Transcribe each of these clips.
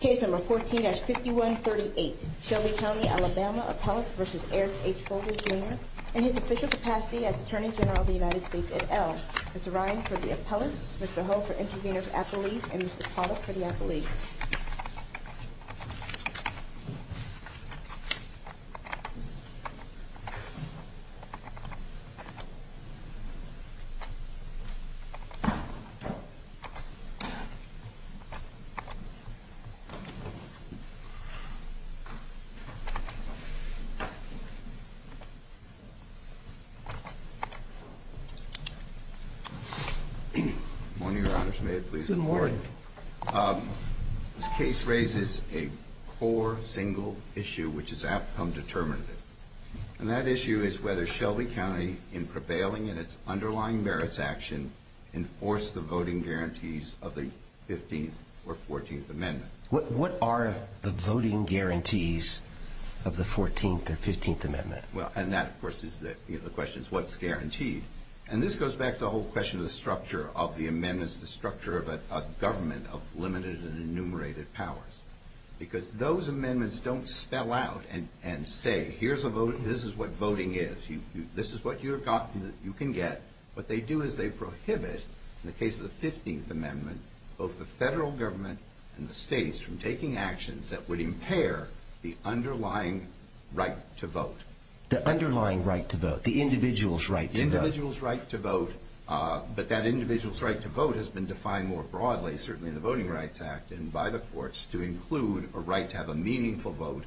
Case number 14-5138, Shelby County, Alabama, Appellate v. Eric H. Holder, Jr. In his official capacity as Attorney General of the United States et al., Mr. Ryan for the Appellate, Mr. Hull for Intervener's Appellate, and Mr. Pollack for the Appellate. Good morning, Your Honors. May it please the Court. Good morning. This case raises a core, single issue which has outcome determinative. And that issue is whether Shelby County, in prevailing in its underlying merits action, enforced the voting guarantees of the 15th or 14th Amendment. What are the voting guarantees of the 14th or 15th Amendment? Well, and that, of course, is the question. What's guaranteed? And this goes back to the whole question of the structure of the amendments, the structure of a government of limited and enumerated powers. Because those amendments don't spell out and say, here's a vote, this is what voting is, this is what you can get. What they do is they prohibit, in the case of the 15th Amendment, both the federal government and the states from taking actions that would impair the underlying right to vote. The underlying right to vote, the individual's right to vote. The individual's right to vote, but that individual's right to vote has been defined more broadly, certainly in the Voting Rights Act and by the courts, to include a right to have a meaningful vote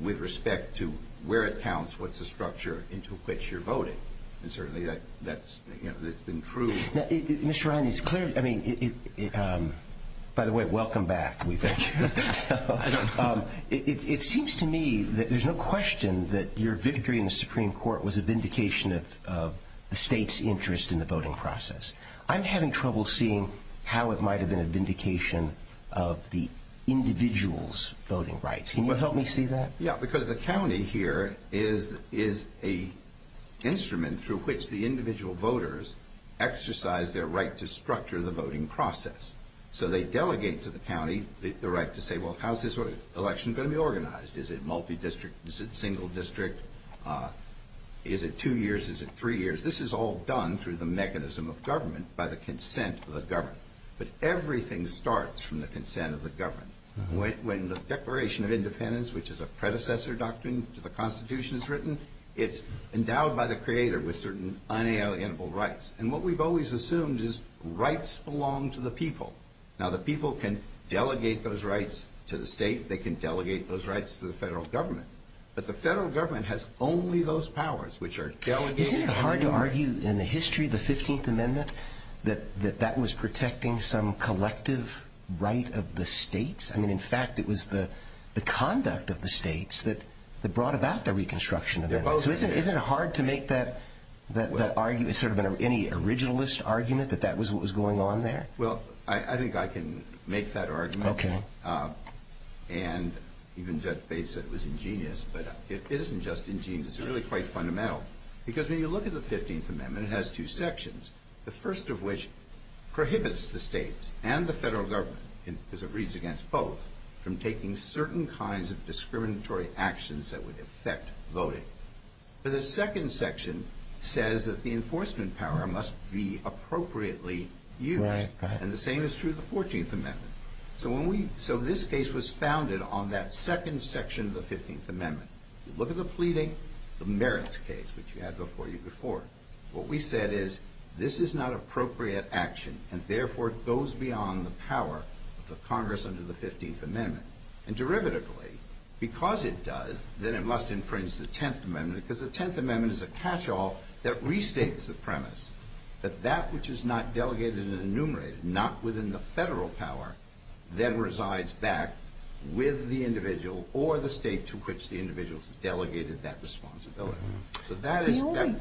with respect to where it counts, what's the structure into which you're voting. And certainly that's been true. Now, Mr. Ryan, it's clear, I mean, by the way, welcome back. Thank you. It seems to me that there's no question that your victory in the Supreme Court was a vindication of the state's interest in the voting process. I'm having trouble seeing how it might have been a vindication of the individual's voting rights. Can you help me see that? Yeah, because the county here is an instrument through which the individual voters exercise their right to structure the voting process. So they delegate to the county the right to say, well, how's this election going to be organized? Is it multi-district? Is it single district? Is it two years? Is it three years? This is all done through the mechanism of government by the consent of the government. But everything starts from the consent of the government. When the Declaration of Independence, which is a predecessor doctrine to the Constitution, is written, it's endowed by the creator with certain unalienable rights. And what we've always assumed is rights belong to the people. Now, the people can delegate those rights to the state. They can delegate those rights to the federal government. Isn't it hard to argue in the history of the 15th Amendment that that was protecting some collective right of the states? I mean, in fact, it was the conduct of the states that brought about the Reconstruction Amendment. So isn't it hard to make that argument, sort of any originalist argument, that that was what was going on there? Well, I think I can make that argument. And even Judge Bates said it was ingenious, but it isn't just ingenious. It's really quite fundamental because when you look at the 15th Amendment, it has two sections, the first of which prohibits the states and the federal government, because it reads against both, from taking certain kinds of discriminatory actions that would affect voting. But the second section says that the enforcement power must be appropriately used. And the same is true of the 14th Amendment. So this case was founded on that second section of the 15th Amendment. You look at the pleading, the merits case, which you had before you before. What we said is this is not appropriate action, and therefore it goes beyond the power of the Congress under the 15th Amendment. And derivatively, because it does, then it must infringe the 10th Amendment, because the 10th Amendment is a catch-all that restates the premise that that which is not delegated and enumerated, not within the federal power, then resides back with the individual or the state to which the individual has delegated that responsibility. So that is that.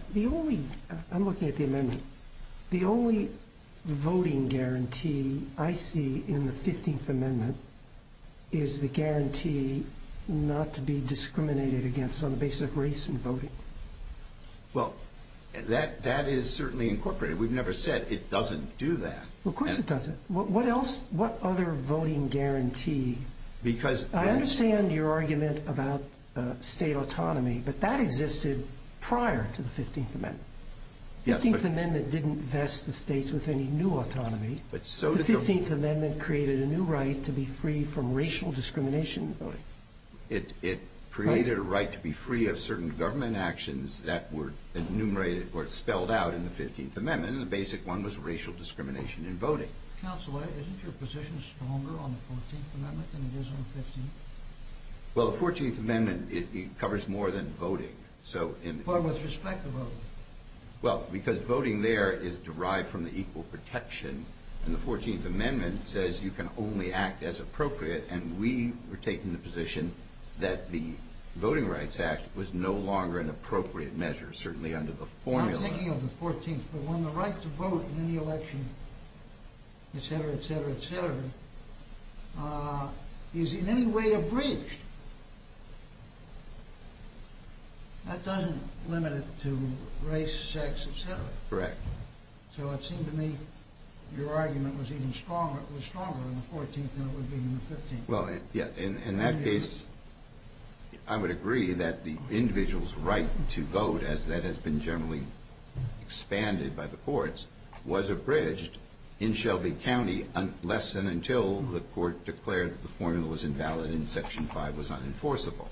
I'm looking at the amendment. The only voting guarantee I see in the 15th Amendment is the guarantee not to be discriminated against on the basis of race and voting. Well, that is certainly incorporated. We've never said it doesn't do that. Well, of course it doesn't. What else? What other voting guarantee? I understand your argument about state autonomy, but that existed prior to the 15th Amendment. The 15th Amendment didn't vest the states with any new autonomy. The 15th Amendment created a new right to be free from racial discrimination in voting. It created a right to be free of certain government actions that were enumerated or spelled out in the 15th Amendment. And the basic one was racial discrimination in voting. Counsel, isn't your position stronger on the 14th Amendment than it is on the 15th? Well, the 14th Amendment covers more than voting. But with respect to voting. Well, because voting there is derived from the equal protection. And the 14th Amendment says you can only act as appropriate. And we were taking the position that the Voting Rights Act was no longer an appropriate measure, certainly under the formula. I'm not thinking of the 14th, but when the right to vote in any election, etc., etc., etc., is in any way abridged, that doesn't limit it to race, sex, etc. Correct. So it seemed to me your argument was even stronger on the 14th than it would be on the 15th. Well, yeah. In that case, I would agree that the individual's right to vote, as that has been generally expanded by the courts, was abridged in Shelby County less than until the court declared that the formula was invalid and Section 5 was unenforceable.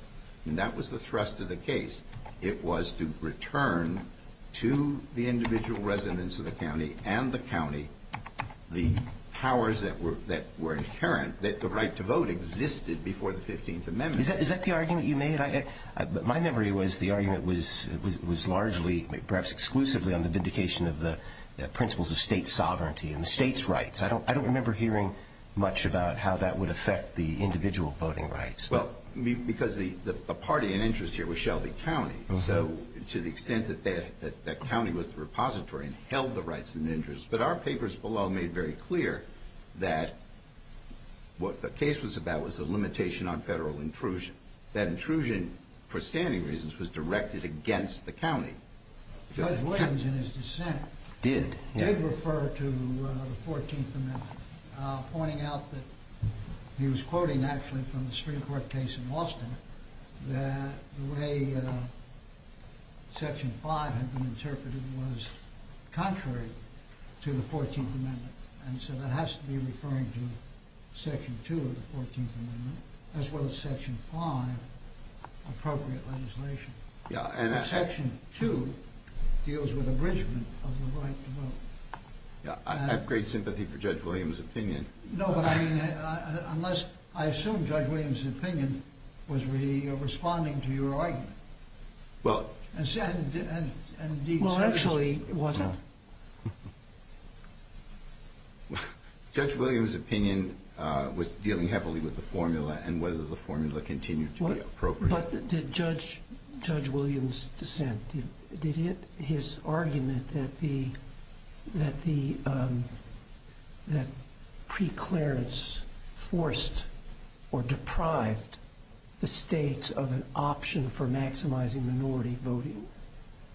And that was the thrust of the case. It was to return to the individual residents of the county and the county the powers that were inherent, that the right to vote existed before the 15th Amendment. Is that the argument you made? My memory was the argument was largely, perhaps exclusively, on the vindication of the principles of State sovereignty and the State's rights. I don't remember hearing much about how that would affect the individual voting rights. Well, because the party in interest here was Shelby County, so to the extent that that county was the repository and held the rights and interests. But our papers below made very clear that what the case was about was the limitation on federal intrusion. That intrusion, for standing reasons, was directed against the county. Judge Williams, in his dissent, did refer to the 14th Amendment. Pointing out that he was quoting, actually, from the Supreme Court case in Boston, that the way Section 5 had been interpreted was contrary to the 14th Amendment. And so that has to be referring to Section 2 of the 14th Amendment, as well as Section 5 appropriate legislation. Section 2 deals with abridgment of the right to vote. I have great sympathy for Judge Williams' opinion. No, but I assume Judge Williams' opinion was responding to your argument. Well, actually, it wasn't. Judge Williams' opinion was dealing heavily with the formula and whether the formula continued to be appropriate. But did Judge Williams' dissent, did his argument that preclearance forced or deprived the states of an option for maximizing minority voting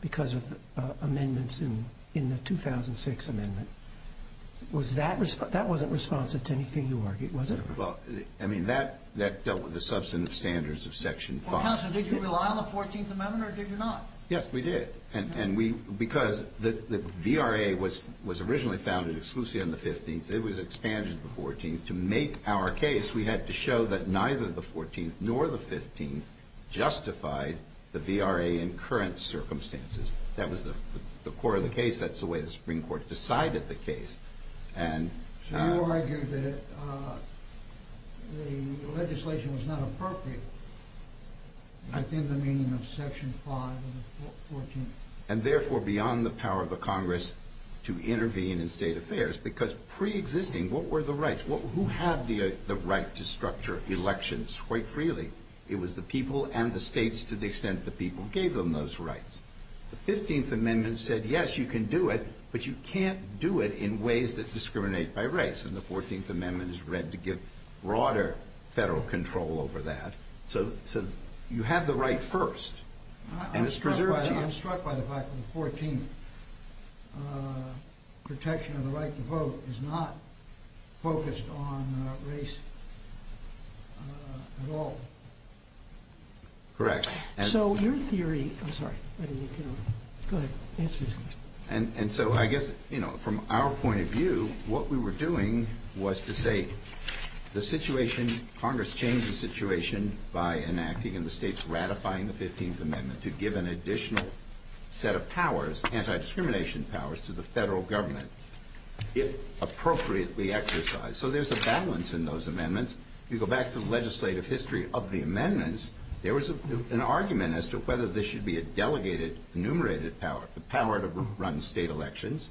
because of amendments in the 2006 Amendment, that wasn't responsive to anything you argued, was it? Well, I mean, that dealt with the substantive standards of Section 5. Counsel, did you rely on the 14th Amendment or did you not? Yes, we did. And because the VRA was originally founded exclusively on the 15th, it was expanded to the 14th. To make our case, we had to show that neither the 14th nor the 15th justified the VRA in current circumstances. That was the core of the case. That's the way the Supreme Court decided the case. So you argue that the legislation was not appropriate, I think, in the meaning of Section 5 of the 14th. And therefore, beyond the power of the Congress to intervene in state affairs because preexisting, what were the rights? Who had the right to structure elections quite freely? It was the people and the states to the extent the people gave them those rights. The 15th Amendment said, yes, you can do it, but you can't do it in ways that discriminate by race. And the 14th Amendment is read to give broader federal control over that. So you have the right first. I'm struck by the fact that the 14th protection of the right to vote is not focused on race at all. Correct. So your theory, I'm sorry, go ahead. And so I guess, you know, from our point of view, what we were doing was to say the situation, Congress changed the situation by enacting and the states ratifying the 15th Amendment to give an additional set of powers, anti-discrimination powers, to the federal government, if appropriately exercised. So there's a balance in those amendments. If you go back to the legislative history of the amendments, there was an argument as to whether this should be a delegated, enumerated power. The power to run state elections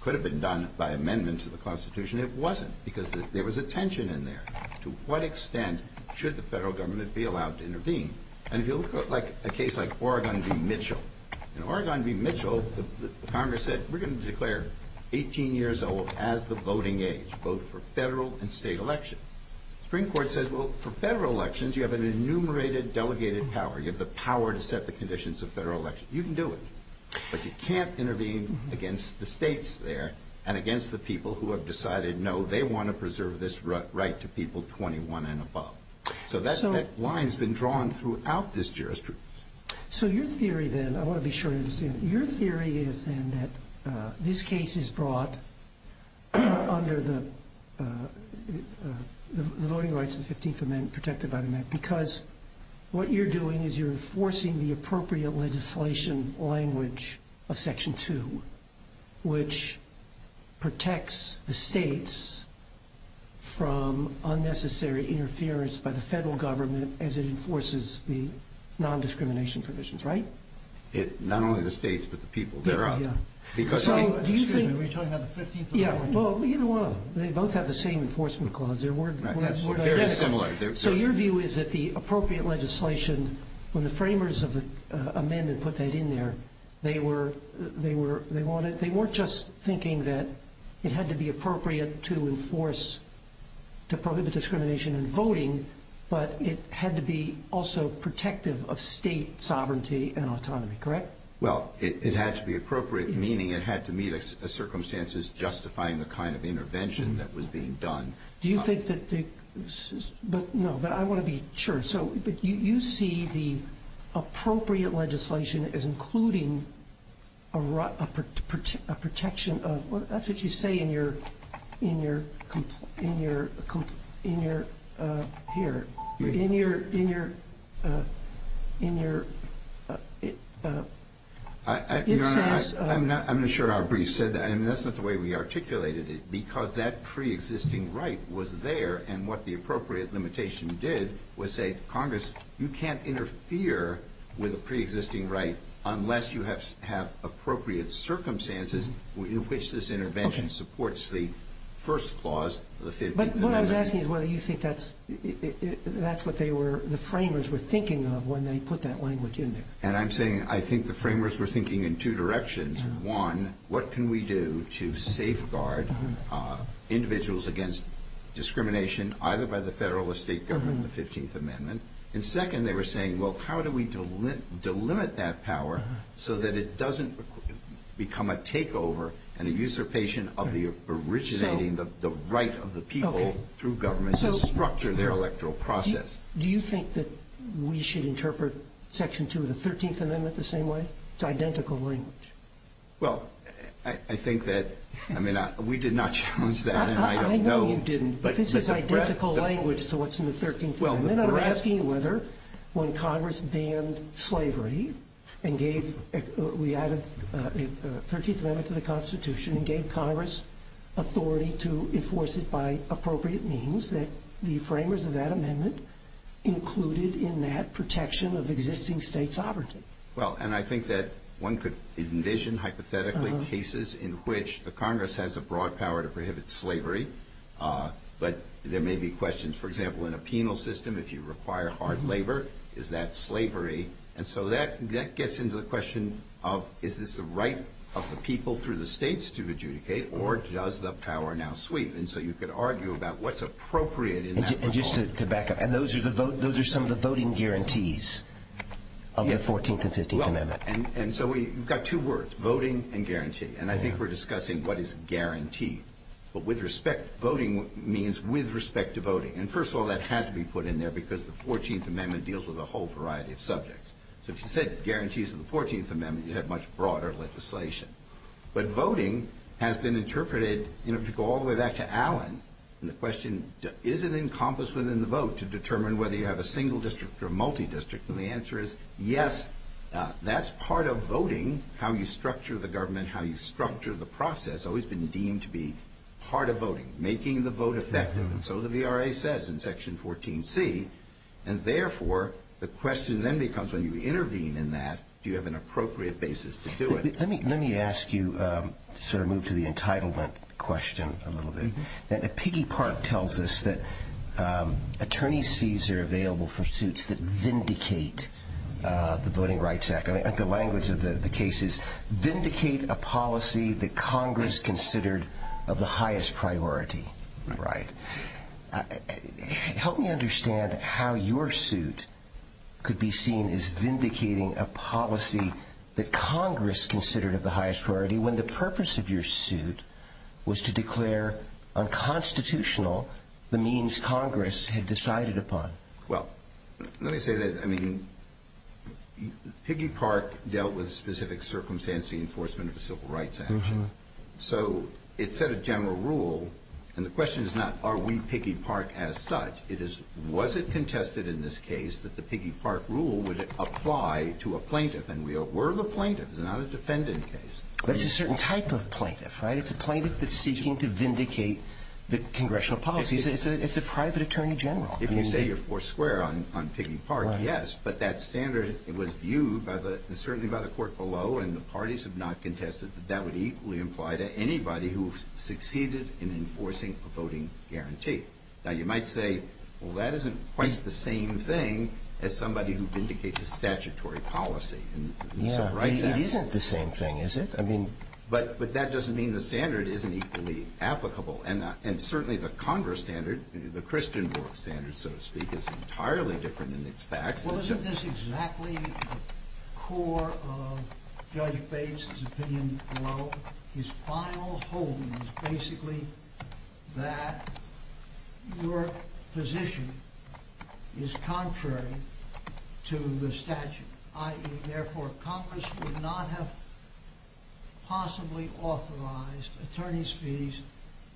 could have been done by amendment to the Constitution. It wasn't because there was a tension in there. To what extent should the federal government be allowed to intervene? And if you look at a case like Oregon v. Mitchell, in Oregon v. Mitchell, the Congress said we're going to declare 18 years old as the voting age, both for federal and state elections. The Supreme Court says, well, for federal elections, you have an enumerated delegated power. You have the power to set the conditions of federal elections. You can do it, but you can't intervene against the states there and against the people who have decided, no, they want to preserve this right to people 21 and above. So that line has been drawn throughout this jurisdiction. So your theory then, I want to be sure I understand, your theory is then that this case is brought under the voting rights of the 15th Amendment, protected by the amendment, because what you're doing is you're enforcing the appropriate legislation language of Section 2, which protects the states from unnecessary interference by the federal government as it enforces the nondiscrimination provisions, right? Not only the states, but the people thereof. Excuse me, were you talking about the 15th Amendment? Yeah, well, you know what, they both have the same enforcement clause. They're word by word identical. Very similar. So your view is that the appropriate legislation, when the framers of the amendment put that in there, they were just thinking that it had to be appropriate to enforce, to prohibit discrimination in voting, but it had to be also protective of state sovereignty and autonomy, correct? Well, it had to be appropriate, meaning it had to meet the circumstances justifying the kind of intervention that was being done. Do you think that the – no, but I want to be sure. So you see the appropriate legislation as including a protection of – that's what you say in your – here. In your – it says – Your Honor, I'm not sure how brief you said that, and that's not the way we articulated it, because that preexisting right was there, and what the appropriate limitation did was say, Congress, you can't interfere with a preexisting right unless you have appropriate circumstances in which this intervention supports the first clause of the 15th Amendment. But what I was asking is whether you think that's what they were – the framers were thinking of when they put that language in there. And I'm saying I think the framers were thinking in two directions. One, what can we do to safeguard individuals against discrimination either by the federal or state government in the 15th Amendment? And second, they were saying, well, how do we delimit that power so that it doesn't become a takeover and a usurpation of the originating the right of the people through government to structure their electoral process? Do you think that we should interpret Section 2 of the 13th Amendment the same way? It's identical language. Well, I think that – I mean, we did not challenge that, and I don't know. I know you didn't, but this is identical language to what's in the 13th Amendment. I'm asking whether when Congress banned slavery and gave – we added the 13th Amendment to the Constitution and gave Congress authority to enforce it by appropriate means, that the framers of that amendment included in that protection of existing state sovereignty. Well, and I think that one could envision hypothetically cases in which the Congress has the broad power to prohibit slavery, but there may be questions. For example, in a penal system, if you require hard labor, is that slavery? And so that gets into the question of is this the right of the people through the states to adjudicate, or does the power now sweep? And so you could argue about what's appropriate in that law. And just to back up, and those are some of the voting guarantees of the 14th and 15th Amendments. And so we've got two words, voting and guarantee, and I think we're discussing what is guaranteed. But with respect – voting means with respect to voting. And first of all, that had to be put in there because the 14th Amendment deals with a whole variety of subjects. So if you said guarantees of the 14th Amendment, you'd have much broader legislation. But voting has been interpreted, if you go all the way back to Allen and the question, is it encompassed within the vote to determine whether you have a single district or a multi-district? And the answer is yes. That's part of voting, how you structure the government, how you structure the process, has always been deemed to be part of voting, making the vote effective. And so the VRA says in Section 14C. And therefore, the question then becomes when you intervene in that, do you have an appropriate basis to do it? Let me ask you – sort of move to the entitlement question a little bit. Piggy Park tells us that attorneys' fees are available for suits that vindicate the Voting Rights Act. The language of the case is vindicate a policy that Congress considered of the highest priority. Right. Help me understand how your suit could be seen as vindicating a policy that Congress considered of the highest priority when the purpose of your suit was to declare unconstitutional the means Congress had decided upon. Well, let me say this. I mean, Piggy Park dealt with specific circumstances, the enforcement of the Civil Rights Act. So it set a general rule. And the question is not, are we Piggy Park as such? It is, was it contested in this case that the Piggy Park rule would apply to a plaintiff? And we're the plaintiff. It's not a defendant case. That's a certain type of plaintiff, right? It's a plaintiff that's seeking to vindicate the congressional policies. It's a private attorney general. If you say you're four square on Piggy Park, yes. But that standard was viewed certainly by the court below, and the parties have not contested, that that would equally imply to anybody who succeeded in enforcing a voting guarantee. Now, you might say, well, that isn't quite the same thing as somebody who vindicates a statutory policy in the Civil Rights Act. It isn't the same thing, is it? But that doesn't mean the standard isn't equally applicable. And certainly the Congress standard, the Christian rule standard, so to speak, is entirely different in its facts. Well, isn't this exactly the core of Judge Bates's opinion below? His final holding is basically that your position is contrary to the statute, i.e., therefore, Congress would not have possibly authorized attorney's fees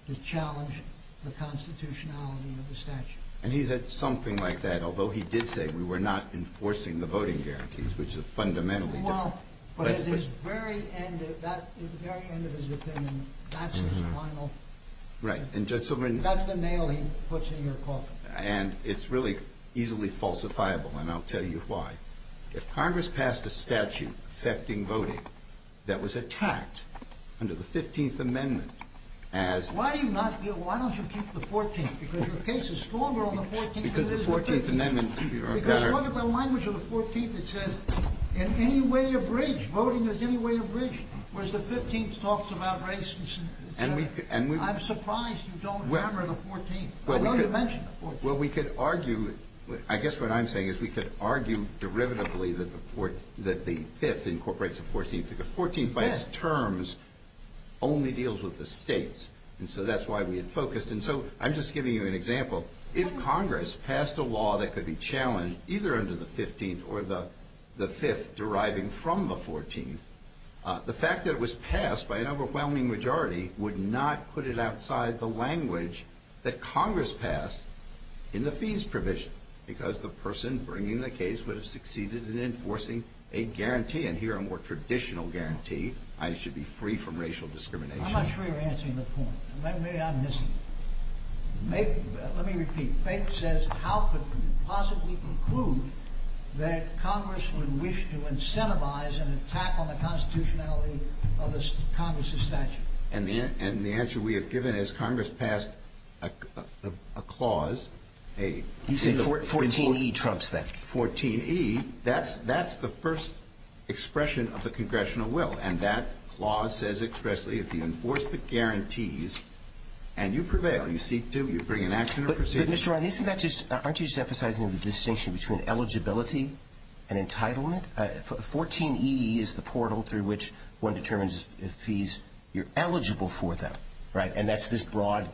to challenge the constitutionality of the statute. And he said something like that, although he did say we were not enforcing the voting guarantees, which is fundamentally different. Well, but at the very end of his opinion, that's his final – that's the nail he puts in your coffin. And it's really easily falsifiable, and I'll tell you why. If Congress passed a statute affecting voting that was attacked under the 15th Amendment as – Why do you not – why don't you keep the 14th? Because your case is stronger on the 14th than it is the 15th. Because the 14th Amendment – Because look at the language of the 14th. It says, in any way abridged, voting is any way abridged, whereas the 15th talks about race. I'm surprised you don't hammer the 14th. I know you mentioned the 14th. Well, we could argue – I guess what I'm saying is we could argue derivatively that the 5th incorporates the 14th. The 14th, by its terms, only deals with the states, and so that's why we had focused. And so I'm just giving you an example. If Congress passed a law that could be challenged either under the 15th or the 5th deriving from the 14th, the fact that it was passed by an overwhelming majority would not put it outside the language that Congress passed in the fees provision because the person bringing the case would have succeeded in enforcing a guarantee, and here a more traditional guarantee, I should be free from racial discrimination. I'm not sure you're answering the point. Maybe I'm missing it. Let me repeat. Faith says, how could we possibly conclude that Congress would wish to incentivize an attack on the constitutionality of Congress's statute? And the answer we have given is Congress passed a clause, a – You say 14e trumps that. 14e. That's the first expression of the congressional will, and that clause says expressly if you enforce the guarantees and you prevail, you seek to, you bring an action or procedure. But, Mr. Ryan, isn't that just – aren't you just emphasizing the distinction between eligibility and entitlement? 14e is the portal through which one determines if fees, you're eligible for them, right, and that's this broad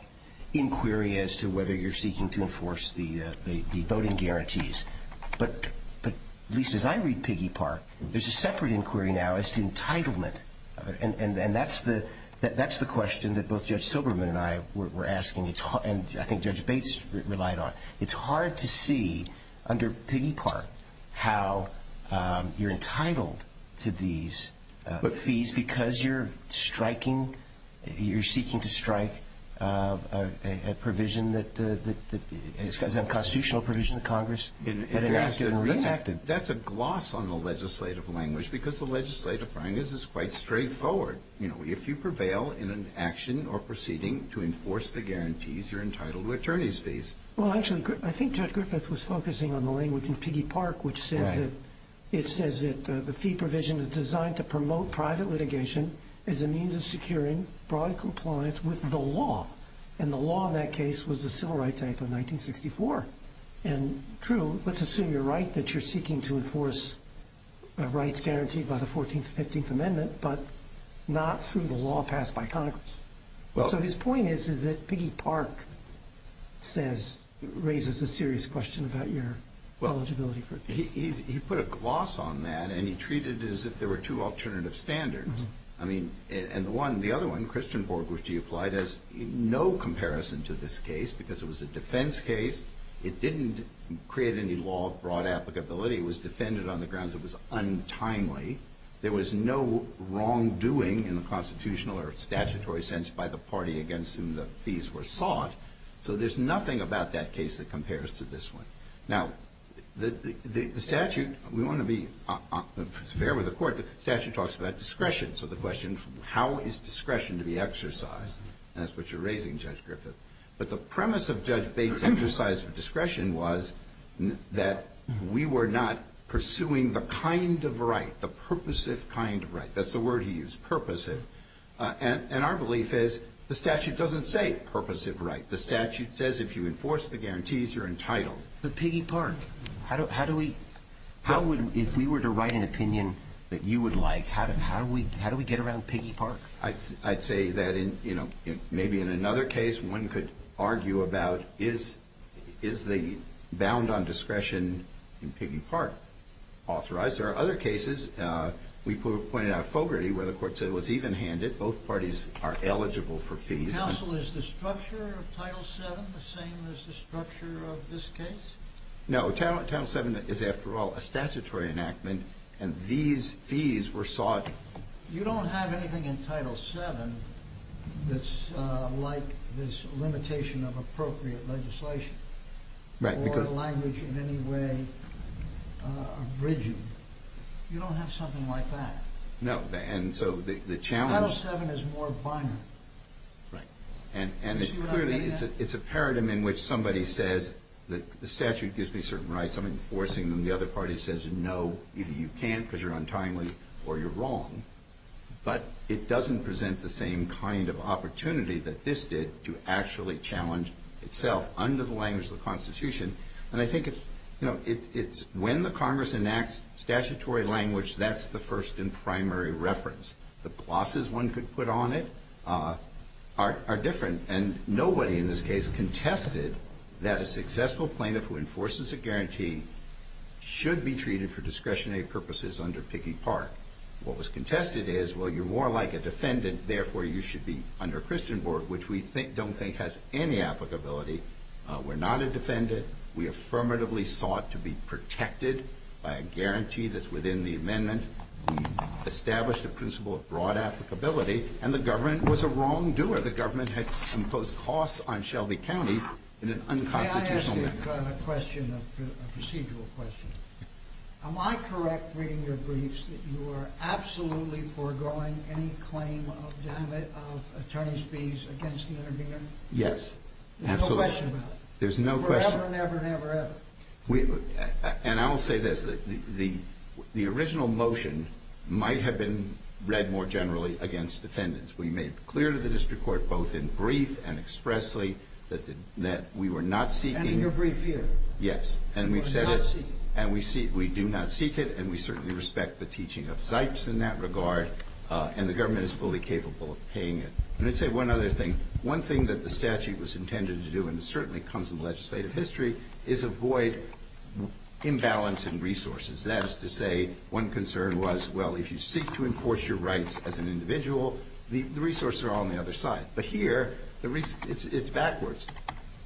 inquiry as to whether you're seeking to enforce the voting guarantees. But, Lisa, as I read Piggy Park, there's a separate inquiry now as to entitlement, and that's the question that both Judge Silberman and I were asking, and I think Judge Bates relied on. It's hard to see under Piggy Park how you're entitled to these fees because you're striking – you're seeking to strike a provision that is a constitutional provision of Congress. That's a gloss on the legislative language because the legislative language is quite straightforward. You know, if you prevail in an action or proceeding to enforce the guarantees, you're entitled to attorney's fees. Well, actually, I think Judge Griffith was focusing on the language in Piggy Park, which says that – it says that the fee provision is designed to promote private litigation as a means of securing broad compliance with the law, and the law in that case was the Civil Rights Act of 1964. And, true, let's assume you're right that you're seeking to enforce rights guaranteed by the 14th and 15th Amendment, but not through the law passed by Congress. So his point is, is that Piggy Park says – raises a serious question about your eligibility for – Well, he put a gloss on that, and he treated it as if there were two alternative standards. I mean – and the one – the other one, Christian Borg, which you applied, has no comparison to this case because it was a defense case. It didn't create any law of broad applicability. It was defended on the grounds it was untimely. There was no wrongdoing in the constitutional or statutory sense by the party against whom the fees were sought. So there's nothing about that case that compares to this one. Now, the statute – we want to be fair with the Court. The statute talks about discretion. So the question, how is discretion to be exercised? And that's what you're raising, Judge Griffith. But the premise of Judge Bates' exercise of discretion was that we were not pursuing the kind of right, the purposive kind of right. That's the word he used, purposive. And our belief is the statute doesn't say purposive right. The statute says if you enforce the guarantees, you're entitled. But Piggy Park, how do we – how would – if we were to write an opinion that you would like, how do we get around Piggy Park? I'd say that in – you know, maybe in another case, one could argue about is the bound on discretion in Piggy Park authorized? There are other cases. We pointed out Fogarty where the Court said it was even-handed. Both parties are eligible for fees. Counsel, is the structure of Title VII the same as the structure of this case? No. Title VII is, after all, a statutory enactment, and these fees were sought. You don't have anything in Title VII that's like this limitation of appropriate legislation. Right. Or language in any way abridging. You don't have something like that. No. And so the challenge – Title VII is more binary. Right. And it clearly – it's a paradigm in which somebody says the statute gives me certain rights. I'm enforcing them. The other party says no, either you can't because you're untimely or you're wrong. But it doesn't present the same kind of opportunity that this did to actually challenge itself under the language of the Constitution. And I think it's – you know, it's when the Congress enacts statutory language, that's the first and primary reference. The pluses one could put on it are different. And nobody in this case contested that a successful plaintiff who enforces a guarantee should be treated for discretionary purposes under Piggy Park. What was contested is, well, you're more like a defendant, therefore you should be under Christian Board, which we don't think has any applicability. We're not a defendant. We affirmatively sought to be protected by a guarantee that's within the amendment. We established a principle of broad applicability. And the government was a wrongdoer. The government had imposed costs on Shelby County in an unconstitutional manner. May I ask a question, a procedural question? Am I correct, reading your briefs, that you are absolutely foregoing any claim of attorney's fees against the intervener? Yes, absolutely. There's no question about it? There's no question. Forever and ever and ever and ever? And I will say this. The original motion might have been read more generally against defendants. We made clear to the district court, both in brief and expressly, that we were not seeking – And in your brief here? Yes. And we do not seek it, and we certainly respect the teaching of Zipes in that regard. And the government is fully capable of paying it. Let me say one other thing. One thing that the statute was intended to do, and it certainly comes in the legislative history, is avoid imbalance in resources. That is to say, one concern was, well, if you seek to enforce your rights as an individual, the resources are on the other side. But here, it's backwards.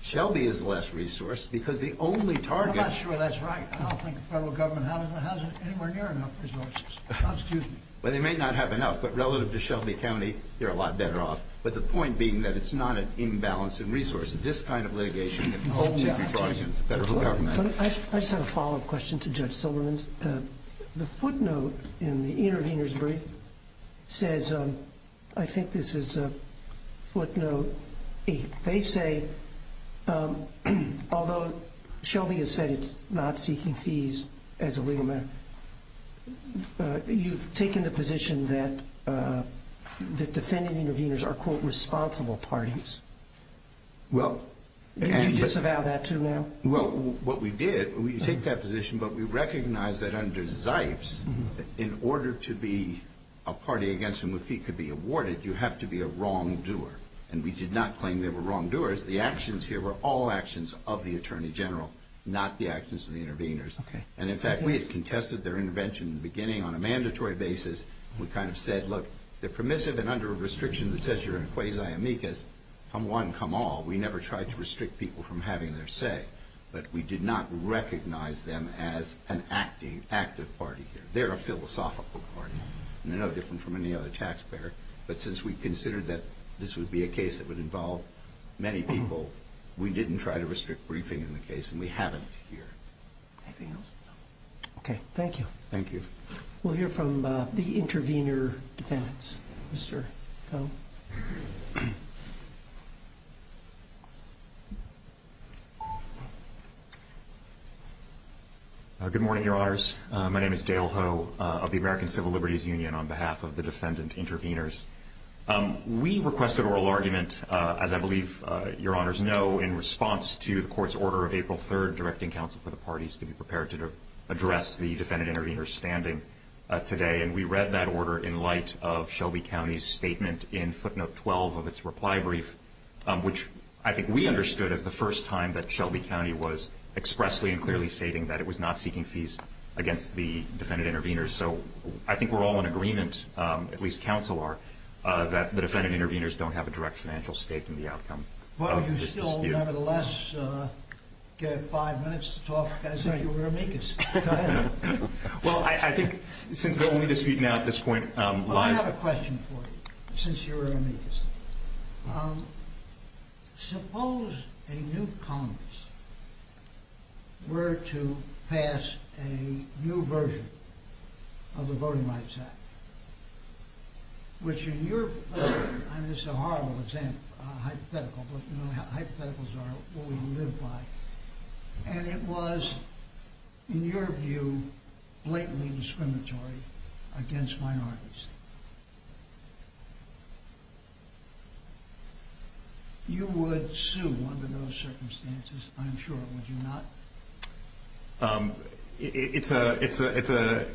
Shelby is less resourced because the only target – I'm not sure that's right. I don't think the federal government has anywhere near enough resources. Excuse me. Well, they may not have enough, but relative to Shelby County, they're a lot better off. But the point being that it's not an imbalance in resources. This kind of litigation – Hold me up. I just have a follow-up question to Judge Silverman's. The footnote in the intervener's brief says – I think this is a footnote. They say, although Shelby has said it's not seeking fees as a legal matter, you've taken the position that defendant-interveners are, quote, responsible parties. You disavow that, too, now? Well, what we did, we take that position, but we recognize that under Zipes, in order to be a party against whom a fee could be awarded, you have to be a wrongdoer. And we did not claim they were wrongdoers. The actions here were all actions of the attorney general, not the actions of the interveners. And, in fact, we had contested their intervention in the beginning on a mandatory basis. We kind of said, look, they're permissive and under a restriction that says you're a quasi amicus. Come one, come all. We never tried to restrict people from having their say. But we did not recognize them as an active party here. They're a philosophical party. They're no different from any other taxpayer. But since we considered that this would be a case that would involve many people, we didn't try to restrict briefing in the case, and we haven't here. Anything else? No. Okay. Thank you. Thank you. We'll hear from the intervener defendants. Mr. Coe. Good morning, Your Honors. My name is Dale Coe of the American Civil Liberties Union on behalf of the defendant interveners. We requested oral argument, as I believe Your Honors know, in response to the court's order of April 3rd directing counsel for the parties to be prepared to address the defendant intervener standing today. And we read that order in light of Shelby County's statement in footnote 12 of its reply brief, which I think we understood as the first time that Shelby County was expressly and clearly stating that it was not seeking fees against the defendant interveners. So I think we're all in agreement, at least counsel are, that the defendant interveners don't have a direct financial stake in the outcome of this dispute. But you still nevertheless get five minutes to talk as if you were amicus. Go ahead. Well, I think since the only dispute now at this point lies. Well, I have a question for you, since you're amicus. Suppose a new Congress were to pass a new version of the Voting Rights Act, which in your, I mean this is a horrible example, hypothetical, but you know how hypotheticals are, what we live by. And it was, in your view, blatantly discriminatory against minorities. You would sue under those circumstances, I'm sure, would you not? It's a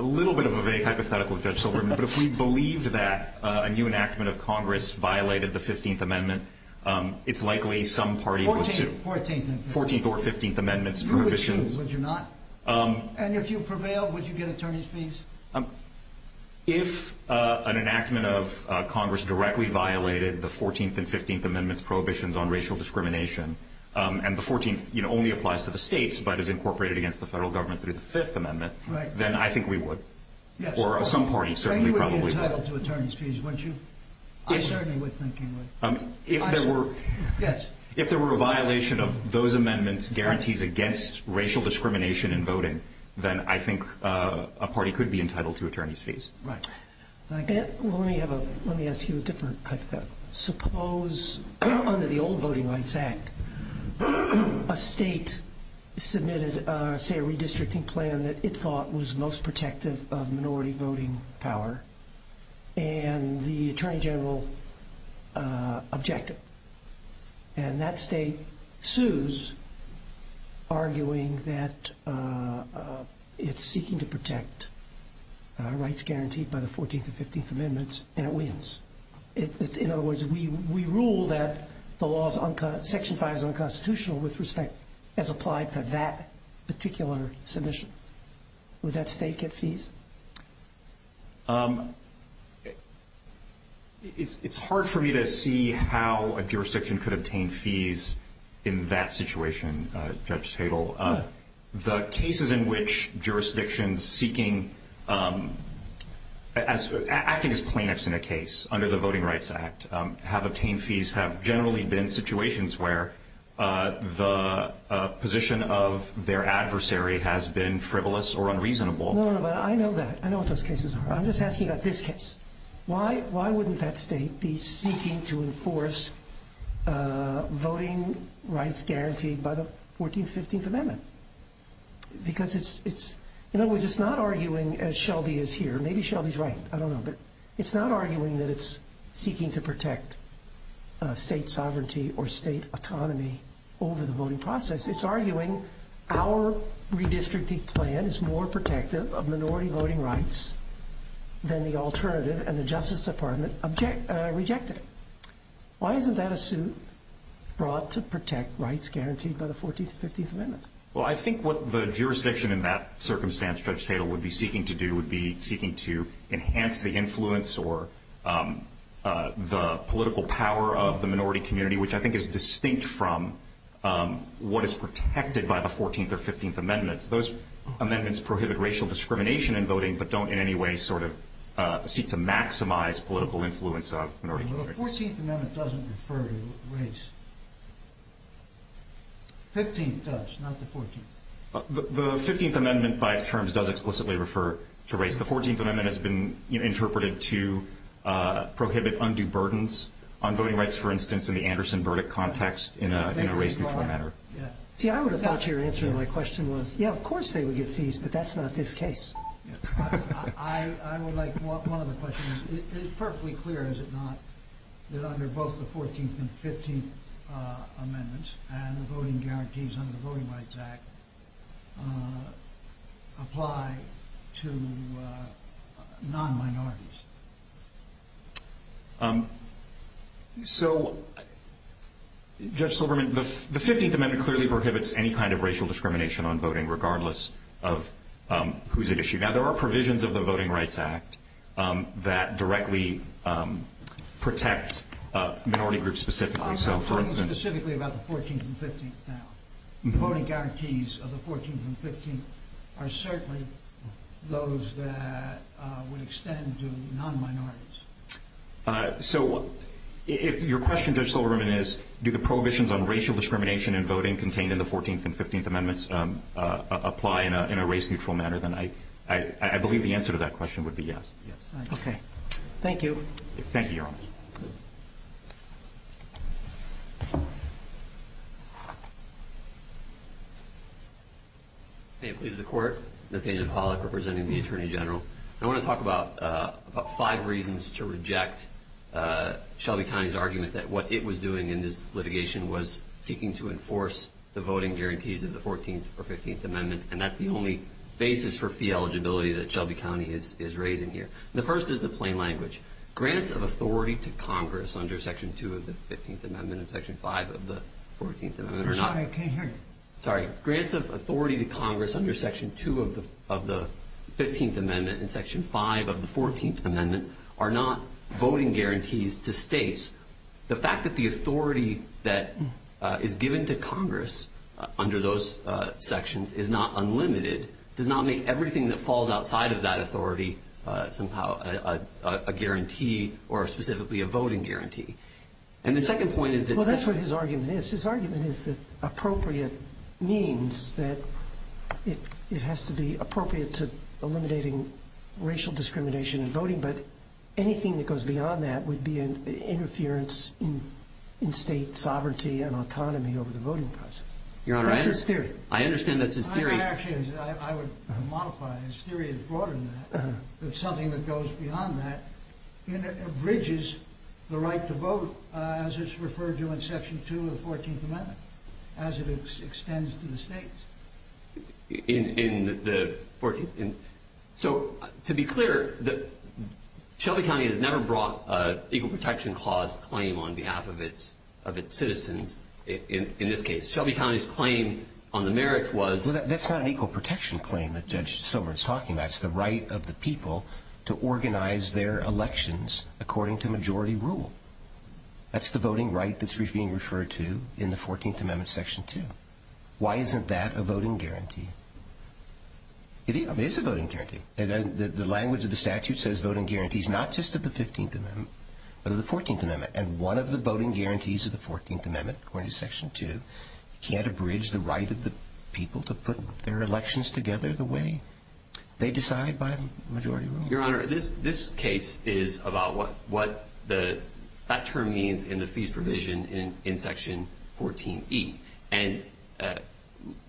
little bit of a vague hypothetical, Judge Silverman, but if we believed that a new enactment of Congress violated the 15th Amendment, it's likely some party would sue. 14th or 15th Amendments prohibitions. You would sue, would you not? And if you prevailed, would you get attorney's fees? If an enactment of Congress directly violated the 14th and 15th Amendments prohibitions on racial discrimination, and the 14th only applies to the states, but is incorporated against the federal government through the 5th Amendment, then I think we would, or some party certainly probably would. Then you would be entitled to attorney's fees, wouldn't you? I certainly would think you would. If there were a violation of those amendments' guarantees against racial discrimination in voting, then I think a party could be entitled to attorney's fees. Right. Let me ask you a different type of question. Suppose, under the old Voting Rights Act, a state submitted, say, a redistricting plan that it thought was most protective of minority voting power, and the Attorney General objected. And that state sues, arguing that it's seeking to protect rights guaranteed by the 14th and 15th Amendments, and it wins. In other words, we rule that Section 5 is unconstitutional with respect, as applied to that particular submission. Would that state get fees? It's hard for me to see how a jurisdiction could obtain fees in that situation, Judge Tadel. The cases in which jurisdictions seeking, acting as plaintiffs in a case under the Voting Rights Act, have obtained fees have generally been situations where the position of their adversary has been frivolous or unreasonable. No, no, but I know that. I know what those cases are. I'm just asking about this case. Why wouldn't that state be seeking to enforce voting rights guaranteed by the 14th and 15th Amendments? Because it's, in other words, it's not arguing, as Shelby is here, maybe Shelby's right, I don't know, but it's not arguing that it's seeking to protect state sovereignty or state autonomy over the voting process. It's arguing our redistricting plan is more protective of minority voting rights than the alternative, and the Justice Department rejected it. Why isn't that a suit brought to protect rights guaranteed by the 14th and 15th Amendments? Well, I think what the jurisdiction in that circumstance, Judge Tadel, would be seeking to do would be seeking to enhance the influence or the political power of the minority community, which I think is distinct from what is protected by the 14th or 15th Amendments. Those amendments prohibit racial discrimination in voting, but don't in any way sort of seek to maximize political influence of minority communities. The 14th Amendment doesn't refer to race. The 15th does, not the 14th. The 15th Amendment, by its terms, does explicitly refer to race. The 14th Amendment has been interpreted to prohibit undue burdens on voting rights, for instance, in the Anderson verdict context in a race-neutral manner. See, I would have thought your answer to my question was, yeah, of course they would get fees, but that's not this case. I would like one other question. It's perfectly clear, is it not, that under both the 14th and 15th Amendments and the voting guarantees under the Voting Rights Act apply to non-minorities? So, Judge Silberman, the 15th Amendment clearly prohibits any kind of racial discrimination on voting, regardless of who's at issue. Now, there are provisions of the Voting Rights Act that directly protect minority groups specifically. I'm not talking specifically about the 14th and 15th now. The voting guarantees of the 14th and 15th are certainly those that would extend to non-minorities. So, if your question, Judge Silberman, is, do the prohibitions on racial discrimination in voting contained in the 14th and 15th Amendments apply in a race-neutral manner, then I believe the answer to that question would be yes. Okay. Thank you. Thank you, Your Honor. Thank you. May it please the Court. Nathaniel Pollack, representing the Attorney General. I want to talk about five reasons to reject Shelby County's argument that what it was doing in this litigation was seeking to enforce the voting guarantees of the 14th or 15th Amendments, and that's the only basis for fee eligibility that Shelby County is raising here. The first is the plain language. Grants of authority to Congress under Section 2 of the 15th Amendment and Section 5 of the 14th Amendment are not- I'm sorry. I can't hear you. Sorry. Grants of authority to Congress under Section 2 of the 15th Amendment and Section 5 of the 14th Amendment are not voting guarantees to states. The fact that the authority that is given to Congress under those sections is not unlimited does not make everything that falls outside of that authority somehow a guarantee or specifically a voting guarantee. And the second point is that- Well, that's what his argument is. His argument is that appropriate means that it has to be appropriate to eliminating racial discrimination in voting, but anything that goes beyond that would be interference in state sovereignty and autonomy over the voting process. I understand that's his theory. Actually, I would modify it. His theory is broader than that. That something that goes beyond that bridges the right to vote as it's referred to in Section 2 of the 14th Amendment, as it extends to the states. In the 14th- So, to be clear, Shelby County has never brought an Equal Protection Clause claim on behalf of its citizens in this case. Shelby County's claim on the merits was- Well, that's not an Equal Protection Claim that Judge Silver is talking about. It's the right of the people to organize their elections according to majority rule. That's the voting right that's being referred to in the 14th Amendment, Section 2. Why isn't that a voting guarantee? It is. It is a voting guarantee. The language of the statute says voting guarantees not just of the 15th Amendment, but of the 14th Amendment. And one of the voting guarantees of the 14th Amendment, according to Section 2, can't abridge the right of the people to put their elections together the way they decide by majority rule. Your Honor, this case is about what that term means in the fees provision in Section 14e. And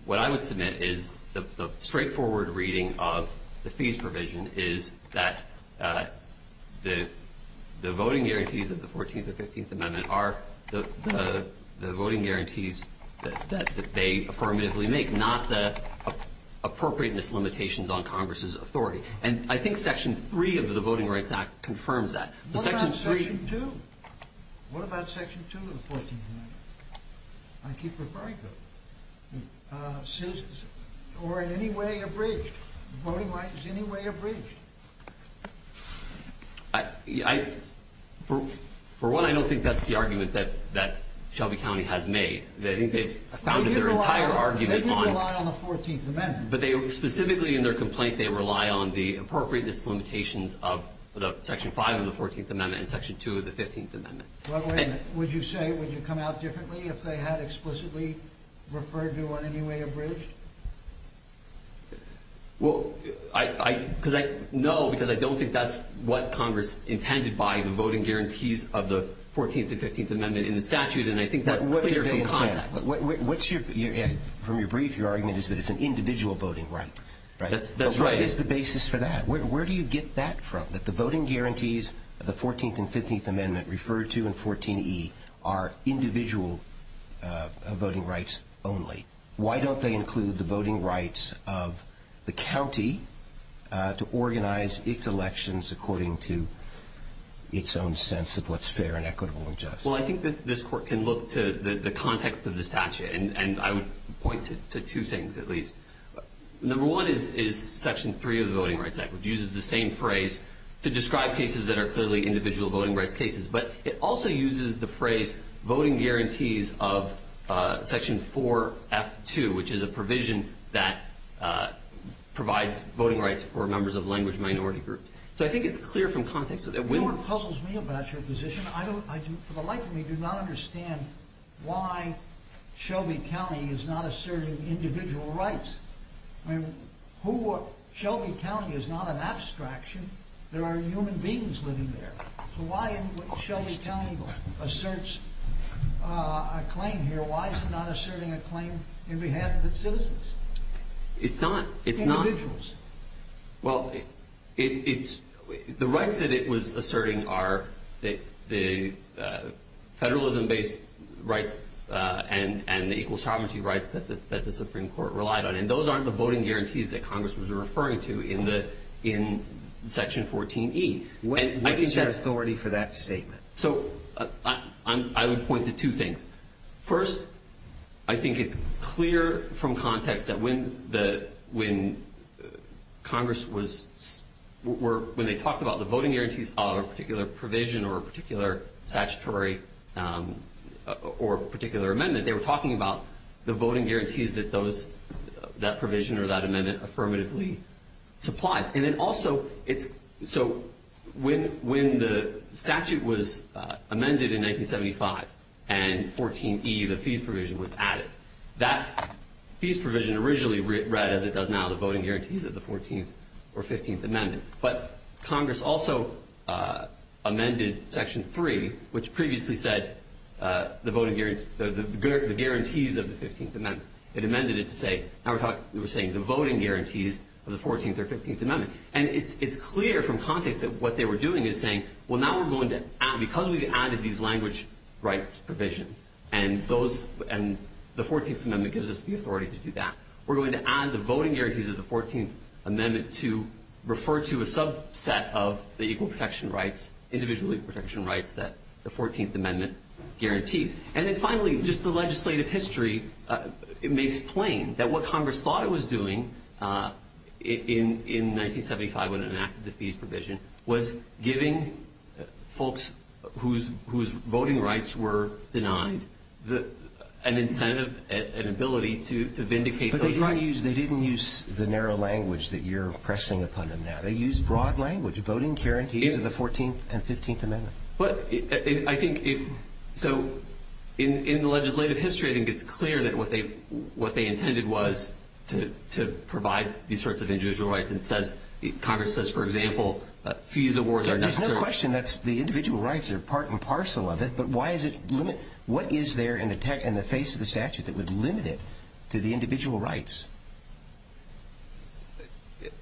what I would submit is the straightforward reading of the fees provision is that the voting guarantees of the 14th or 15th Amendment are the voting guarantees that they affirmatively make, not the appropriate mislimitations on Congress's authority. And I think Section 3 of the Voting Rights Act confirms that. What about Section 2? What about Section 2 of the 14th Amendment? I keep referring to it. Or in any way abridged? Voting rights in any way abridged? For one, I don't think that's the argument that Shelby County has made. I think they've founded their entire argument on it. They do rely on the 14th Amendment. But specifically in their complaint, they rely on the appropriate mislimitations of Section 5 of the 14th Amendment and Section 2 of the 15th Amendment. Would you say, would you come out differently if they had explicitly referred to it in any way abridged? No, because I don't think that's what Congress intended by the voting guarantees of the 14th and 15th Amendment in the statute. And I think that's clear from context. From your brief, your argument is that it's an individual voting right. That's right. But what is the basis for that? Where do you get that from, that the voting guarantees of the 14th and 15th Amendment referred to in 14E are individual voting rights only? Why don't they include the voting rights of the county to organize its elections according to its own sense of what's fair and equitable and just? Well, I think that this Court can look to the context of the statute, and I would point to two things at least. Number one is Section 3 of the Voting Rights Act, which uses the same phrase to describe cases that are clearly individual voting rights cases. But it also uses the phrase voting guarantees of Section 4F2, which is a provision that provides voting rights for members of language minority groups. So I think it's clear from context. You know what puzzles me about your position? I, for the life of me, do not understand why Shelby County is not asserting individual rights. I mean, Shelby County is not an abstraction. There are human beings living there. So why, if Shelby County asserts a claim here, why is it not asserting a claim in behalf of its citizens? It's not. Individuals. Well, the rights that it was asserting are the federalism-based rights and the equal sovereignty rights that the Supreme Court relied on. And those aren't the voting guarantees that Congress was referring to in Section 14E. What is your authority for that statement? So I would point to two things. First, I think it's clear from context that when Congress was – when they talked about the voting guarantees of a particular provision or a particular statutory or particular amendment, they were talking about the voting guarantees that those – that provision or that amendment affirmatively supplies. And it also – it's – so when the statute was amended in 1975 and 14E, the fees provision was added, that fees provision originally read as it does now, the voting guarantees of the 14th or 15th Amendment. But Congress also amended Section 3, which previously said the voting – the guarantees of the 15th Amendment. It amended it to say – now we're talking – we're saying the voting guarantees of the 14th or 15th Amendment. And it's clear from context that what they were doing is saying, well, now we're going to add – because we've added these language rights provisions and those – and the 14th Amendment gives us the authority to do that. We're going to add the voting guarantees of the 14th Amendment to refer to a subset of the equal protection rights, individual protection rights that the 14th Amendment guarantees. And then finally, just the legislative history makes plain that what Congress thought it was doing in 1975 when it enacted the fees provision was giving folks whose voting rights were denied an incentive, an ability to vindicate those rights. But they didn't use the narrow language that you're pressing upon them now. They used broad language, voting guarantees of the 14th and 15th Amendment. But I think – so in the legislative history, I think it's clear that what they intended was to provide these sorts of individual rights. And it says – Congress says, for example, that fees awards are necessary. There's no question that the individual rights are part and parcel of it, but why is it – what is there in the face of the statute that would limit it to the individual rights?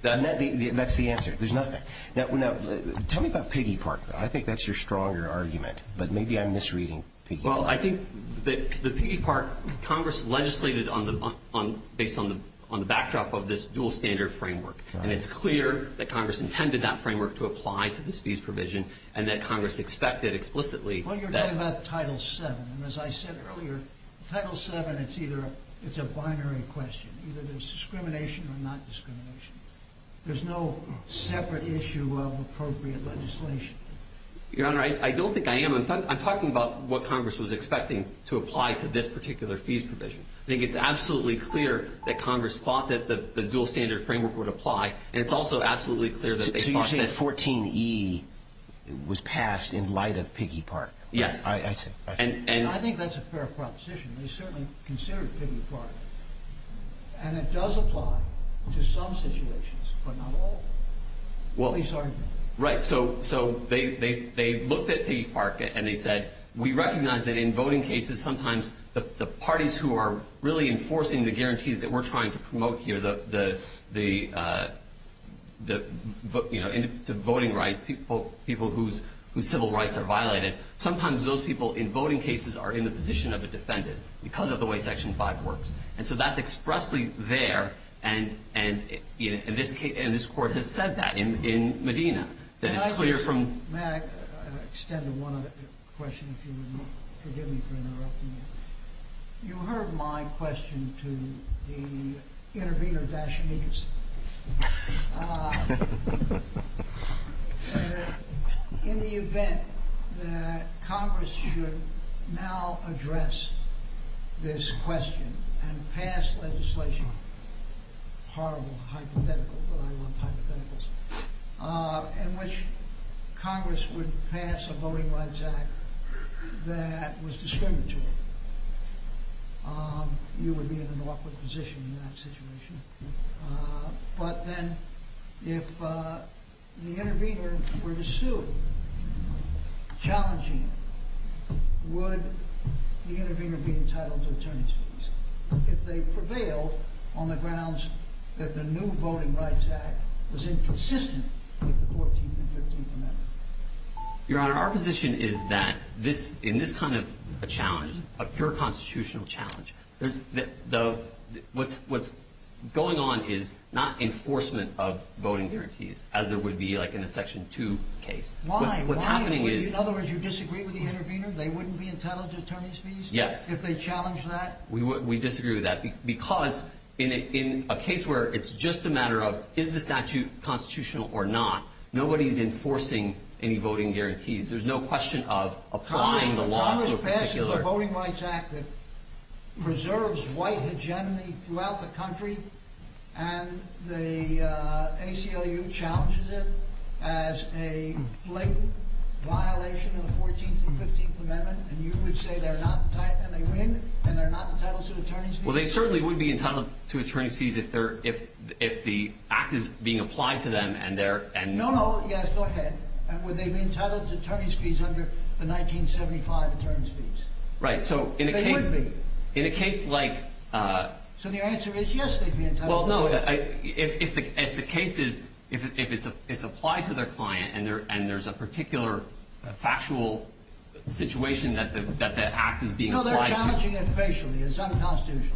That's the answer. There's nothing. Now, tell me about Piggy Park, though. I think that's your stronger argument, but maybe I'm misreading Piggy Park. Well, I think that the Piggy Park – Congress legislated on the – based on the backdrop of this dual standard framework. And it's clear that Congress intended that framework to apply to this fees provision and that Congress expected explicitly that – Well, you're talking about Title VII. And as I said earlier, Title VII, it's either – it's a binary question. Either there's discrimination or not discrimination. There's no separate issue of appropriate legislation. Your Honor, I don't think I am – I'm talking about what Congress was expecting to apply to this particular fees provision. I think it's absolutely clear that Congress thought that the dual standard framework would apply, and it's also absolutely clear that they thought that – So you're saying 14E was passed in light of Piggy Park? Yes. I see. And I think that's a fair proposition. They certainly considered Piggy Park, and it does apply to some situations, but not all. Well – At least, I think. Right. So they looked at Piggy Park, and they said, we recognize that in voting cases, sometimes the parties who are really enforcing the guarantees that we're trying to promote here, the voting rights, people whose civil rights are violated, sometimes those people in voting cases are in the position of a defendant because of the way Section 5 works. And so that's expressly there, and this Court has said that in Medina. May I extend one question, if you will? Forgive me for interrupting you. You heard my question to the intervener, Dash Niekus. In the event that Congress should now address this question and pass legislation – horrible hypothetical, but I love hypotheticals – in which Congress would pass a Voting Rights Act that was discriminatory, you would be in an awkward position in that situation. But then, if the intervener were to sue, challenging him, would the intervener be entitled to attorney's fees, if they prevailed on the grounds that the new Voting Rights Act was inconsistent with the 14th and 15th Amendment? Your Honor, our position is that in this kind of a challenge, a pure constitutional challenge, what's going on is not enforcement of voting guarantees, as there would be in a Section 2 case. Why? In other words, you disagree with the intervener? They wouldn't be entitled to attorney's fees if they challenged that? We disagree with that because in a case where it's just a matter of is the statute constitutional or not, nobody's enforcing any voting guarantees. There's no question of applying the law to a particular – Congress passes a Voting Rights Act that preserves white hegemony throughout the country, and the ACLU challenges it as a blatant violation of the 14th and 15th Amendment, and you would say they're not entitled – and they win, and they're not entitled to attorney's fees? If the act is being applied to them and they're – No, no, yes, go ahead. Would they be entitled to attorney's fees under the 1975 attorney's fees? Right, so in a case – They would be. In a case like – So the answer is yes, they'd be entitled to attorney's fees. Well, no, if the case is – if it's applied to their client and there's a particular factual situation that the act is being applied to – No, they're challenging it facially. It's unconstitutional.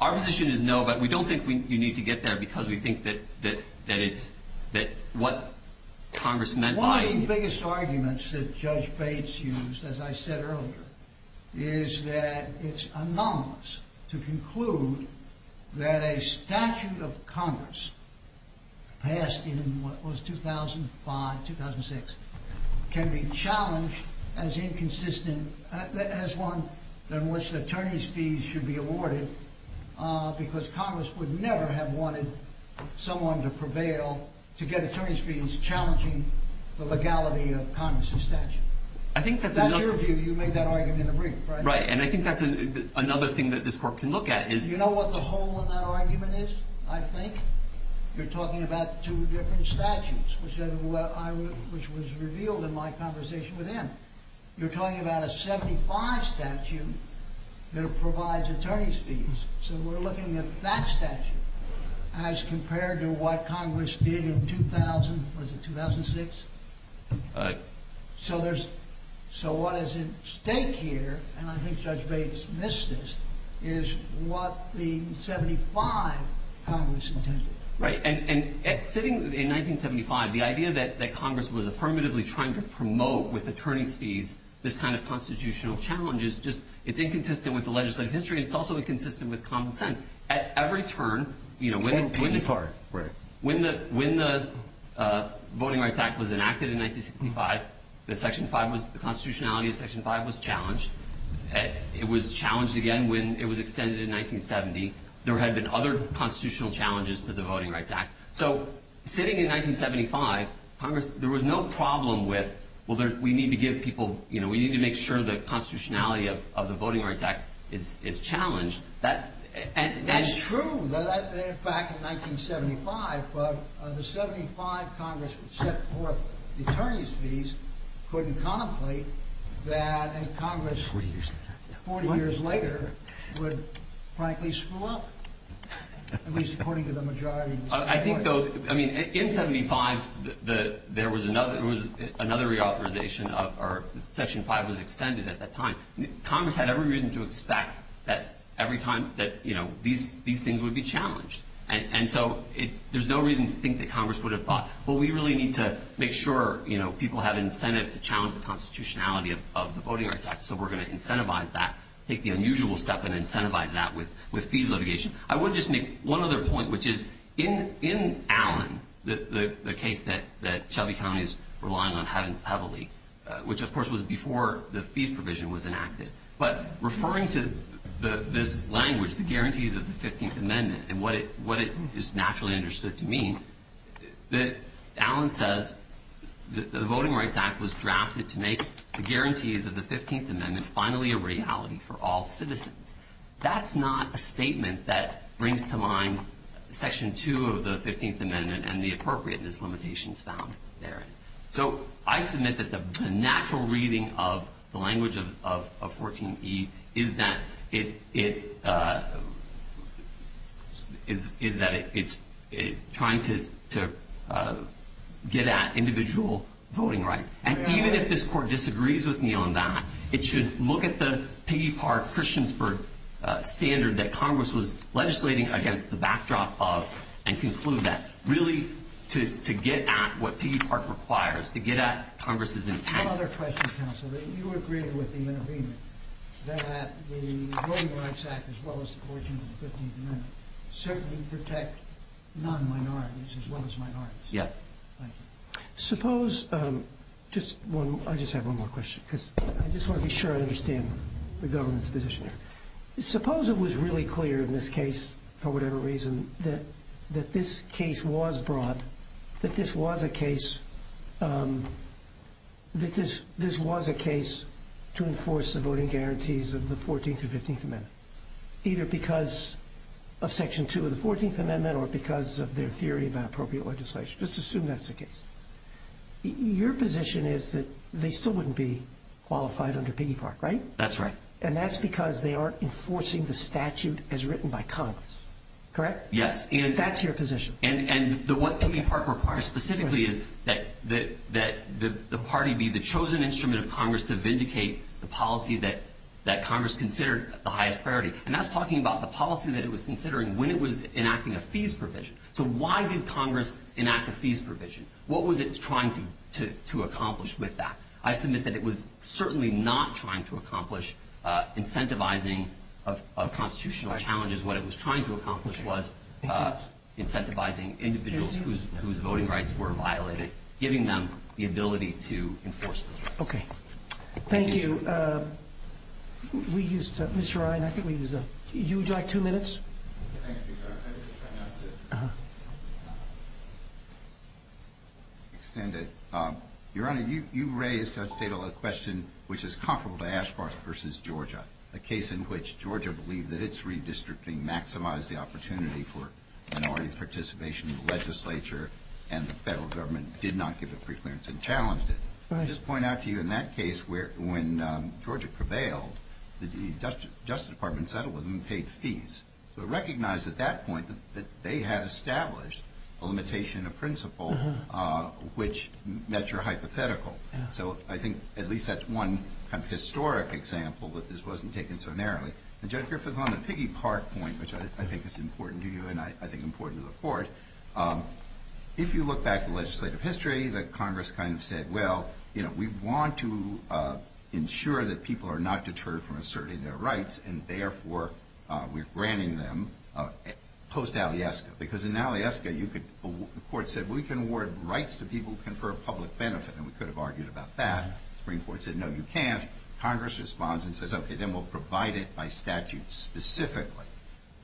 Our position is no, but we don't think you need to get there because we think that it's – that what Congress meant by – One of the biggest arguments that Judge Bates used, as I said earlier, is that it's anomalous to conclude that a statute of Congress passed in what was 2005, 2006, can be challenged as inconsistent as one in which attorney's fees should be awarded because Congress would never have wanted someone to prevail to get attorney's fees challenging the legality of Congress's statute. I think that's enough – That's your view. You made that argument in the brief, right? Right, and I think that's another thing that this Court can look at is – I think you're talking about two different statutes, which was revealed in my conversation with him. You're talking about a 75 statute that provides attorney's fees. So we're looking at that statute as compared to what Congress did in 2000 – was it 2006? Right. So there's – so what is at stake here, and I think Judge Bates missed this, is what the 75 Congress intended. Right, and sitting in 1975, the idea that Congress was affirmatively trying to promote with attorney's fees this kind of constitutional challenge is just – it's inconsistent with the legislative history and it's also inconsistent with common sense. At every turn, you know, when the – For the peace part, right. When the Voting Rights Act was enacted in 1965, the Section 5 was – the constitutionality of Section 5 was challenged. It was challenged again when it was extended in 1970. There had been other constitutional challenges to the Voting Rights Act. So sitting in 1975, Congress – there was no problem with, well, there – we need to give people – you know, we need to make sure the constitutionality of the Voting Rights Act is challenged. That – and – That's true. Back in 1975, the 75 Congress set forth the attorney's fees, couldn't contemplate that a Congress 40 years later would, frankly, screw up, at least according to the majority. I think, though – I mean, in 75, there was another – there was another reauthorization of – or Section 5 was extended at that time. Congress had every reason to expect that every time that, you know, these things would be challenged. And so it – there's no reason to think that Congress would have thought, well, we really need to make sure, you know, people have incentive to challenge the constitutionality of the Voting Rights Act, so we're going to incentivize that, take the unusual step and incentivize that with fees litigation. I would just make one other point, which is in Allen, the case that Shelby County is relying on heavily, which, of course, was before the fees provision was enacted. But referring to this language, the guarantees of the 15th Amendment, and what it is naturally understood to mean, Allen says the Voting Rights Act was drafted to make the guarantees of the 15th Amendment finally a reality for all citizens. That's not a statement that brings to mind Section 2 of the 15th Amendment and the appropriate mislimitations found therein. So I submit that the natural reading of the language of 14E is that it – is that it's trying to get at individual voting rights. And even if this Court disagrees with me on that, it should look at the Piggy Park-Christiansburg standard that Congress was legislating against the backdrop of and conclude that, really, to get at what Piggy Park requires, to get at Congress's intent. One other question, counsel. You agreed with the intervener that the Voting Rights Act, as well as the 14th and 15th Amendments, certainly protect non-minorities as well as minorities. Yeah. Thank you. Suppose – I just have one more question because I just want to be sure I understand the government's position here. Suppose it was really clear in this case, for whatever reason, that this case was broad, that this was a case to enforce the voting guarantees of the 14th and 15th Amendments, either because of Section 2 of the 14th Amendment or because of their theory about appropriate legislation. Let's assume that's the case. Your position is that they still wouldn't be qualified under Piggy Park, right? That's right. And that's because they aren't enforcing the statute as written by Congress. Correct? Yes. That's your position. And what Piggy Park requires specifically is that the party be the chosen instrument of Congress to vindicate the policy that Congress considered the highest priority. And that's talking about the policy that it was considering when it was enacting a fees provision. So why did Congress enact a fees provision? What was it trying to accomplish with that? I submit that it was certainly not trying to accomplish incentivizing of constitutional challenges. What it was trying to accomplish was incentivizing individuals whose voting rights were violated, giving them the ability to enforce those rights. Okay. Thank you. We used Mr. Ryan. I think we used him. Would you like two minutes? Thank you, Judge. I just have to extend it. Your Honor, you raised, Judge Tatel, a question which is comparable to Ashfors versus Georgia, a case in which Georgia believed that its redistricting maximized the opportunity for minority participation in the legislature, and the federal government did not give it free clearance and challenged it. I'll just point out to you in that case when Georgia prevailed, the Justice Department settled with them and paid fees. So recognize at that point that they had established a limitation of principle which met your hypothetical. So I think at least that's one kind of historic example that this wasn't taken so narrowly. And, Judge Griffith, on the piggy part point, which I think is important to you and I think important to the Court, if you look back at legislative history, the Congress kind of said, well, you know, we want to ensure that people are not deterred from asserting their rights, and therefore we're granting them post-Aliaska. Because in Aliaska, the Court said we can award rights to people who confer public benefit, and we could have argued about that. The Supreme Court said, no, you can't. Congress responds and says, okay, then we'll provide it by statute specifically.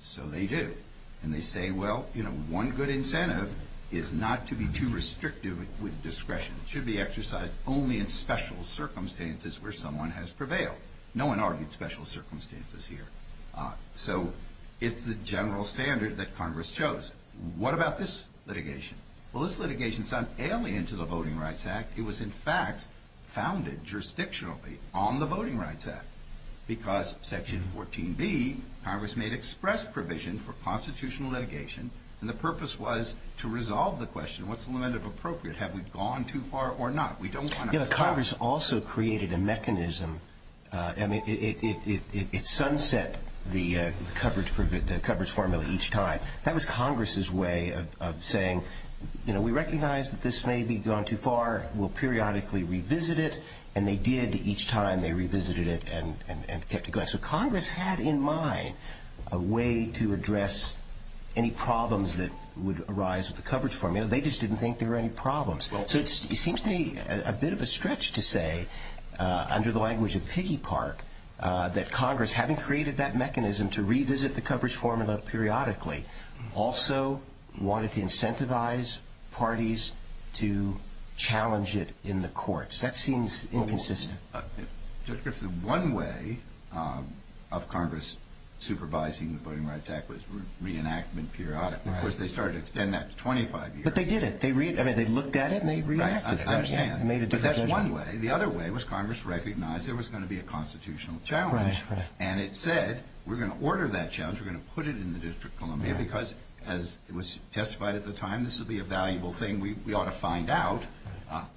So they do. And they say, well, you know, one good incentive is not to be too restrictive with discretion. It should be exercised only in special circumstances where someone has prevailed. No one argued special circumstances here. So it's the general standard that Congress chose. What about this litigation? Well, this litigation is not alien to the Voting Rights Act. It was, in fact, founded jurisdictionally on the Voting Rights Act because Section 14B, Congress made express provision for constitutional litigation, and the purpose was to resolve the question, what's the limit of appropriate? Have we gone too far or not? Congress also created a mechanism. It sunset the coverage formula each time. That was Congress's way of saying, you know, we recognize that this may be gone too far. We'll periodically revisit it. And they did each time. They revisited it and kept it going. So Congress had in mind a way to address any problems that would arise with the coverage formula. They just didn't think there were any problems. So it seems to me a bit of a stretch to say, under the language of Piggy Park, that Congress, having created that mechanism to revisit the coverage formula periodically, also wanted to incentivize parties to challenge it in the courts. That seems inconsistent. One way of Congress supervising the Voting Rights Act was reenactment periodically. Of course, they started to extend that to 25 years. But they did it. They looked at it and they reenacted it. I understand. But that's one way. The other way was Congress recognized there was going to be a constitutional challenge. And it said, we're going to order that challenge. We're going to put it in the District of Columbia because, as was testified at the time, this would be a valuable thing we ought to find out,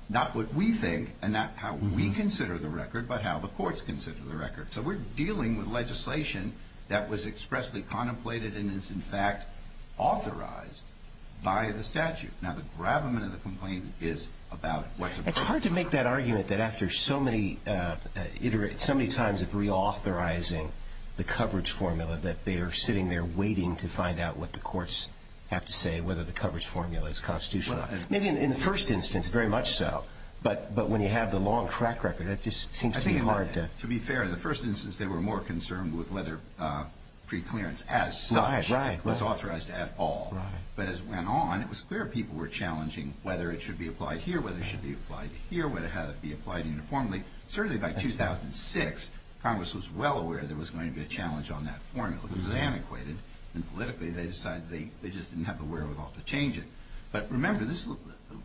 not what we think and not how we consider the record but how the courts consider the record. So we're dealing with legislation that was expressly contemplated and is, in fact, authorized by the statute. Now, the gravamen of the complaint is about what's approved by the statute. It's hard to make that argument that after so many times of reauthorizing the coverage formula that they are sitting there waiting to find out what the courts have to say, whether the coverage formula is constitutional. Maybe in the first instance, very much so. But when you have the long track record, that just seems to be hard to do. To be fair, in the first instance, they were more concerned with letter preclearance as such. Right, right. It was authorized at all. Right. But as it went on, it was clear people were challenging whether it should be applied here, whether it should be applied here, whether it had to be applied uniformly. Certainly by 2006, Congress was well aware there was going to be a challenge on that formula because it antiquated. And politically, they decided they just didn't have the wherewithal to change it. But remember, this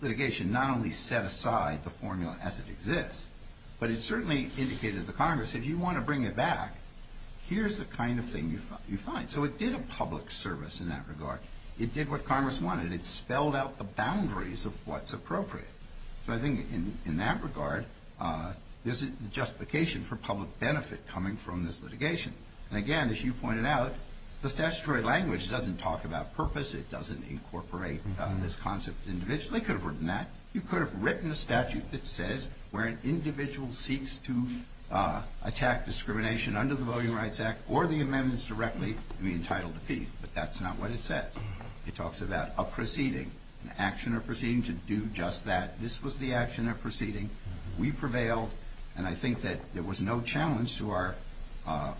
litigation not only set aside the formula as it exists, but it certainly indicated to Congress, if you want to bring it back, here's the kind of thing you find. So it did a public service in that regard. It did what Congress wanted. It spelled out the boundaries of what's appropriate. So I think in that regard, there's a justification for public benefit coming from this litigation. And again, as you pointed out, the statutory language doesn't talk about purpose. It doesn't incorporate this concept individually. They could have written that. You could have written a statute that says where an individual seeks to attack discrimination under the Voting Rights Act or the amendments directly, you'll be entitled to peace. But that's not what it says. It talks about a proceeding, an action or proceeding to do just that. This was the action or proceeding. We prevailed. And I think that there was no challenge to our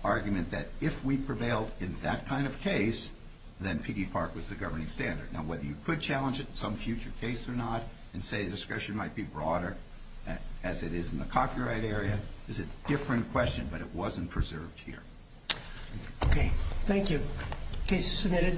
argument that if we prevailed in that kind of case, then Piggy Park was the governing standard. Now, whether you could challenge it in some future case or not and say the discretion might be broader as it is in the copyright area is a different question, but it wasn't preserved here. Okay. Thank you. Thank you.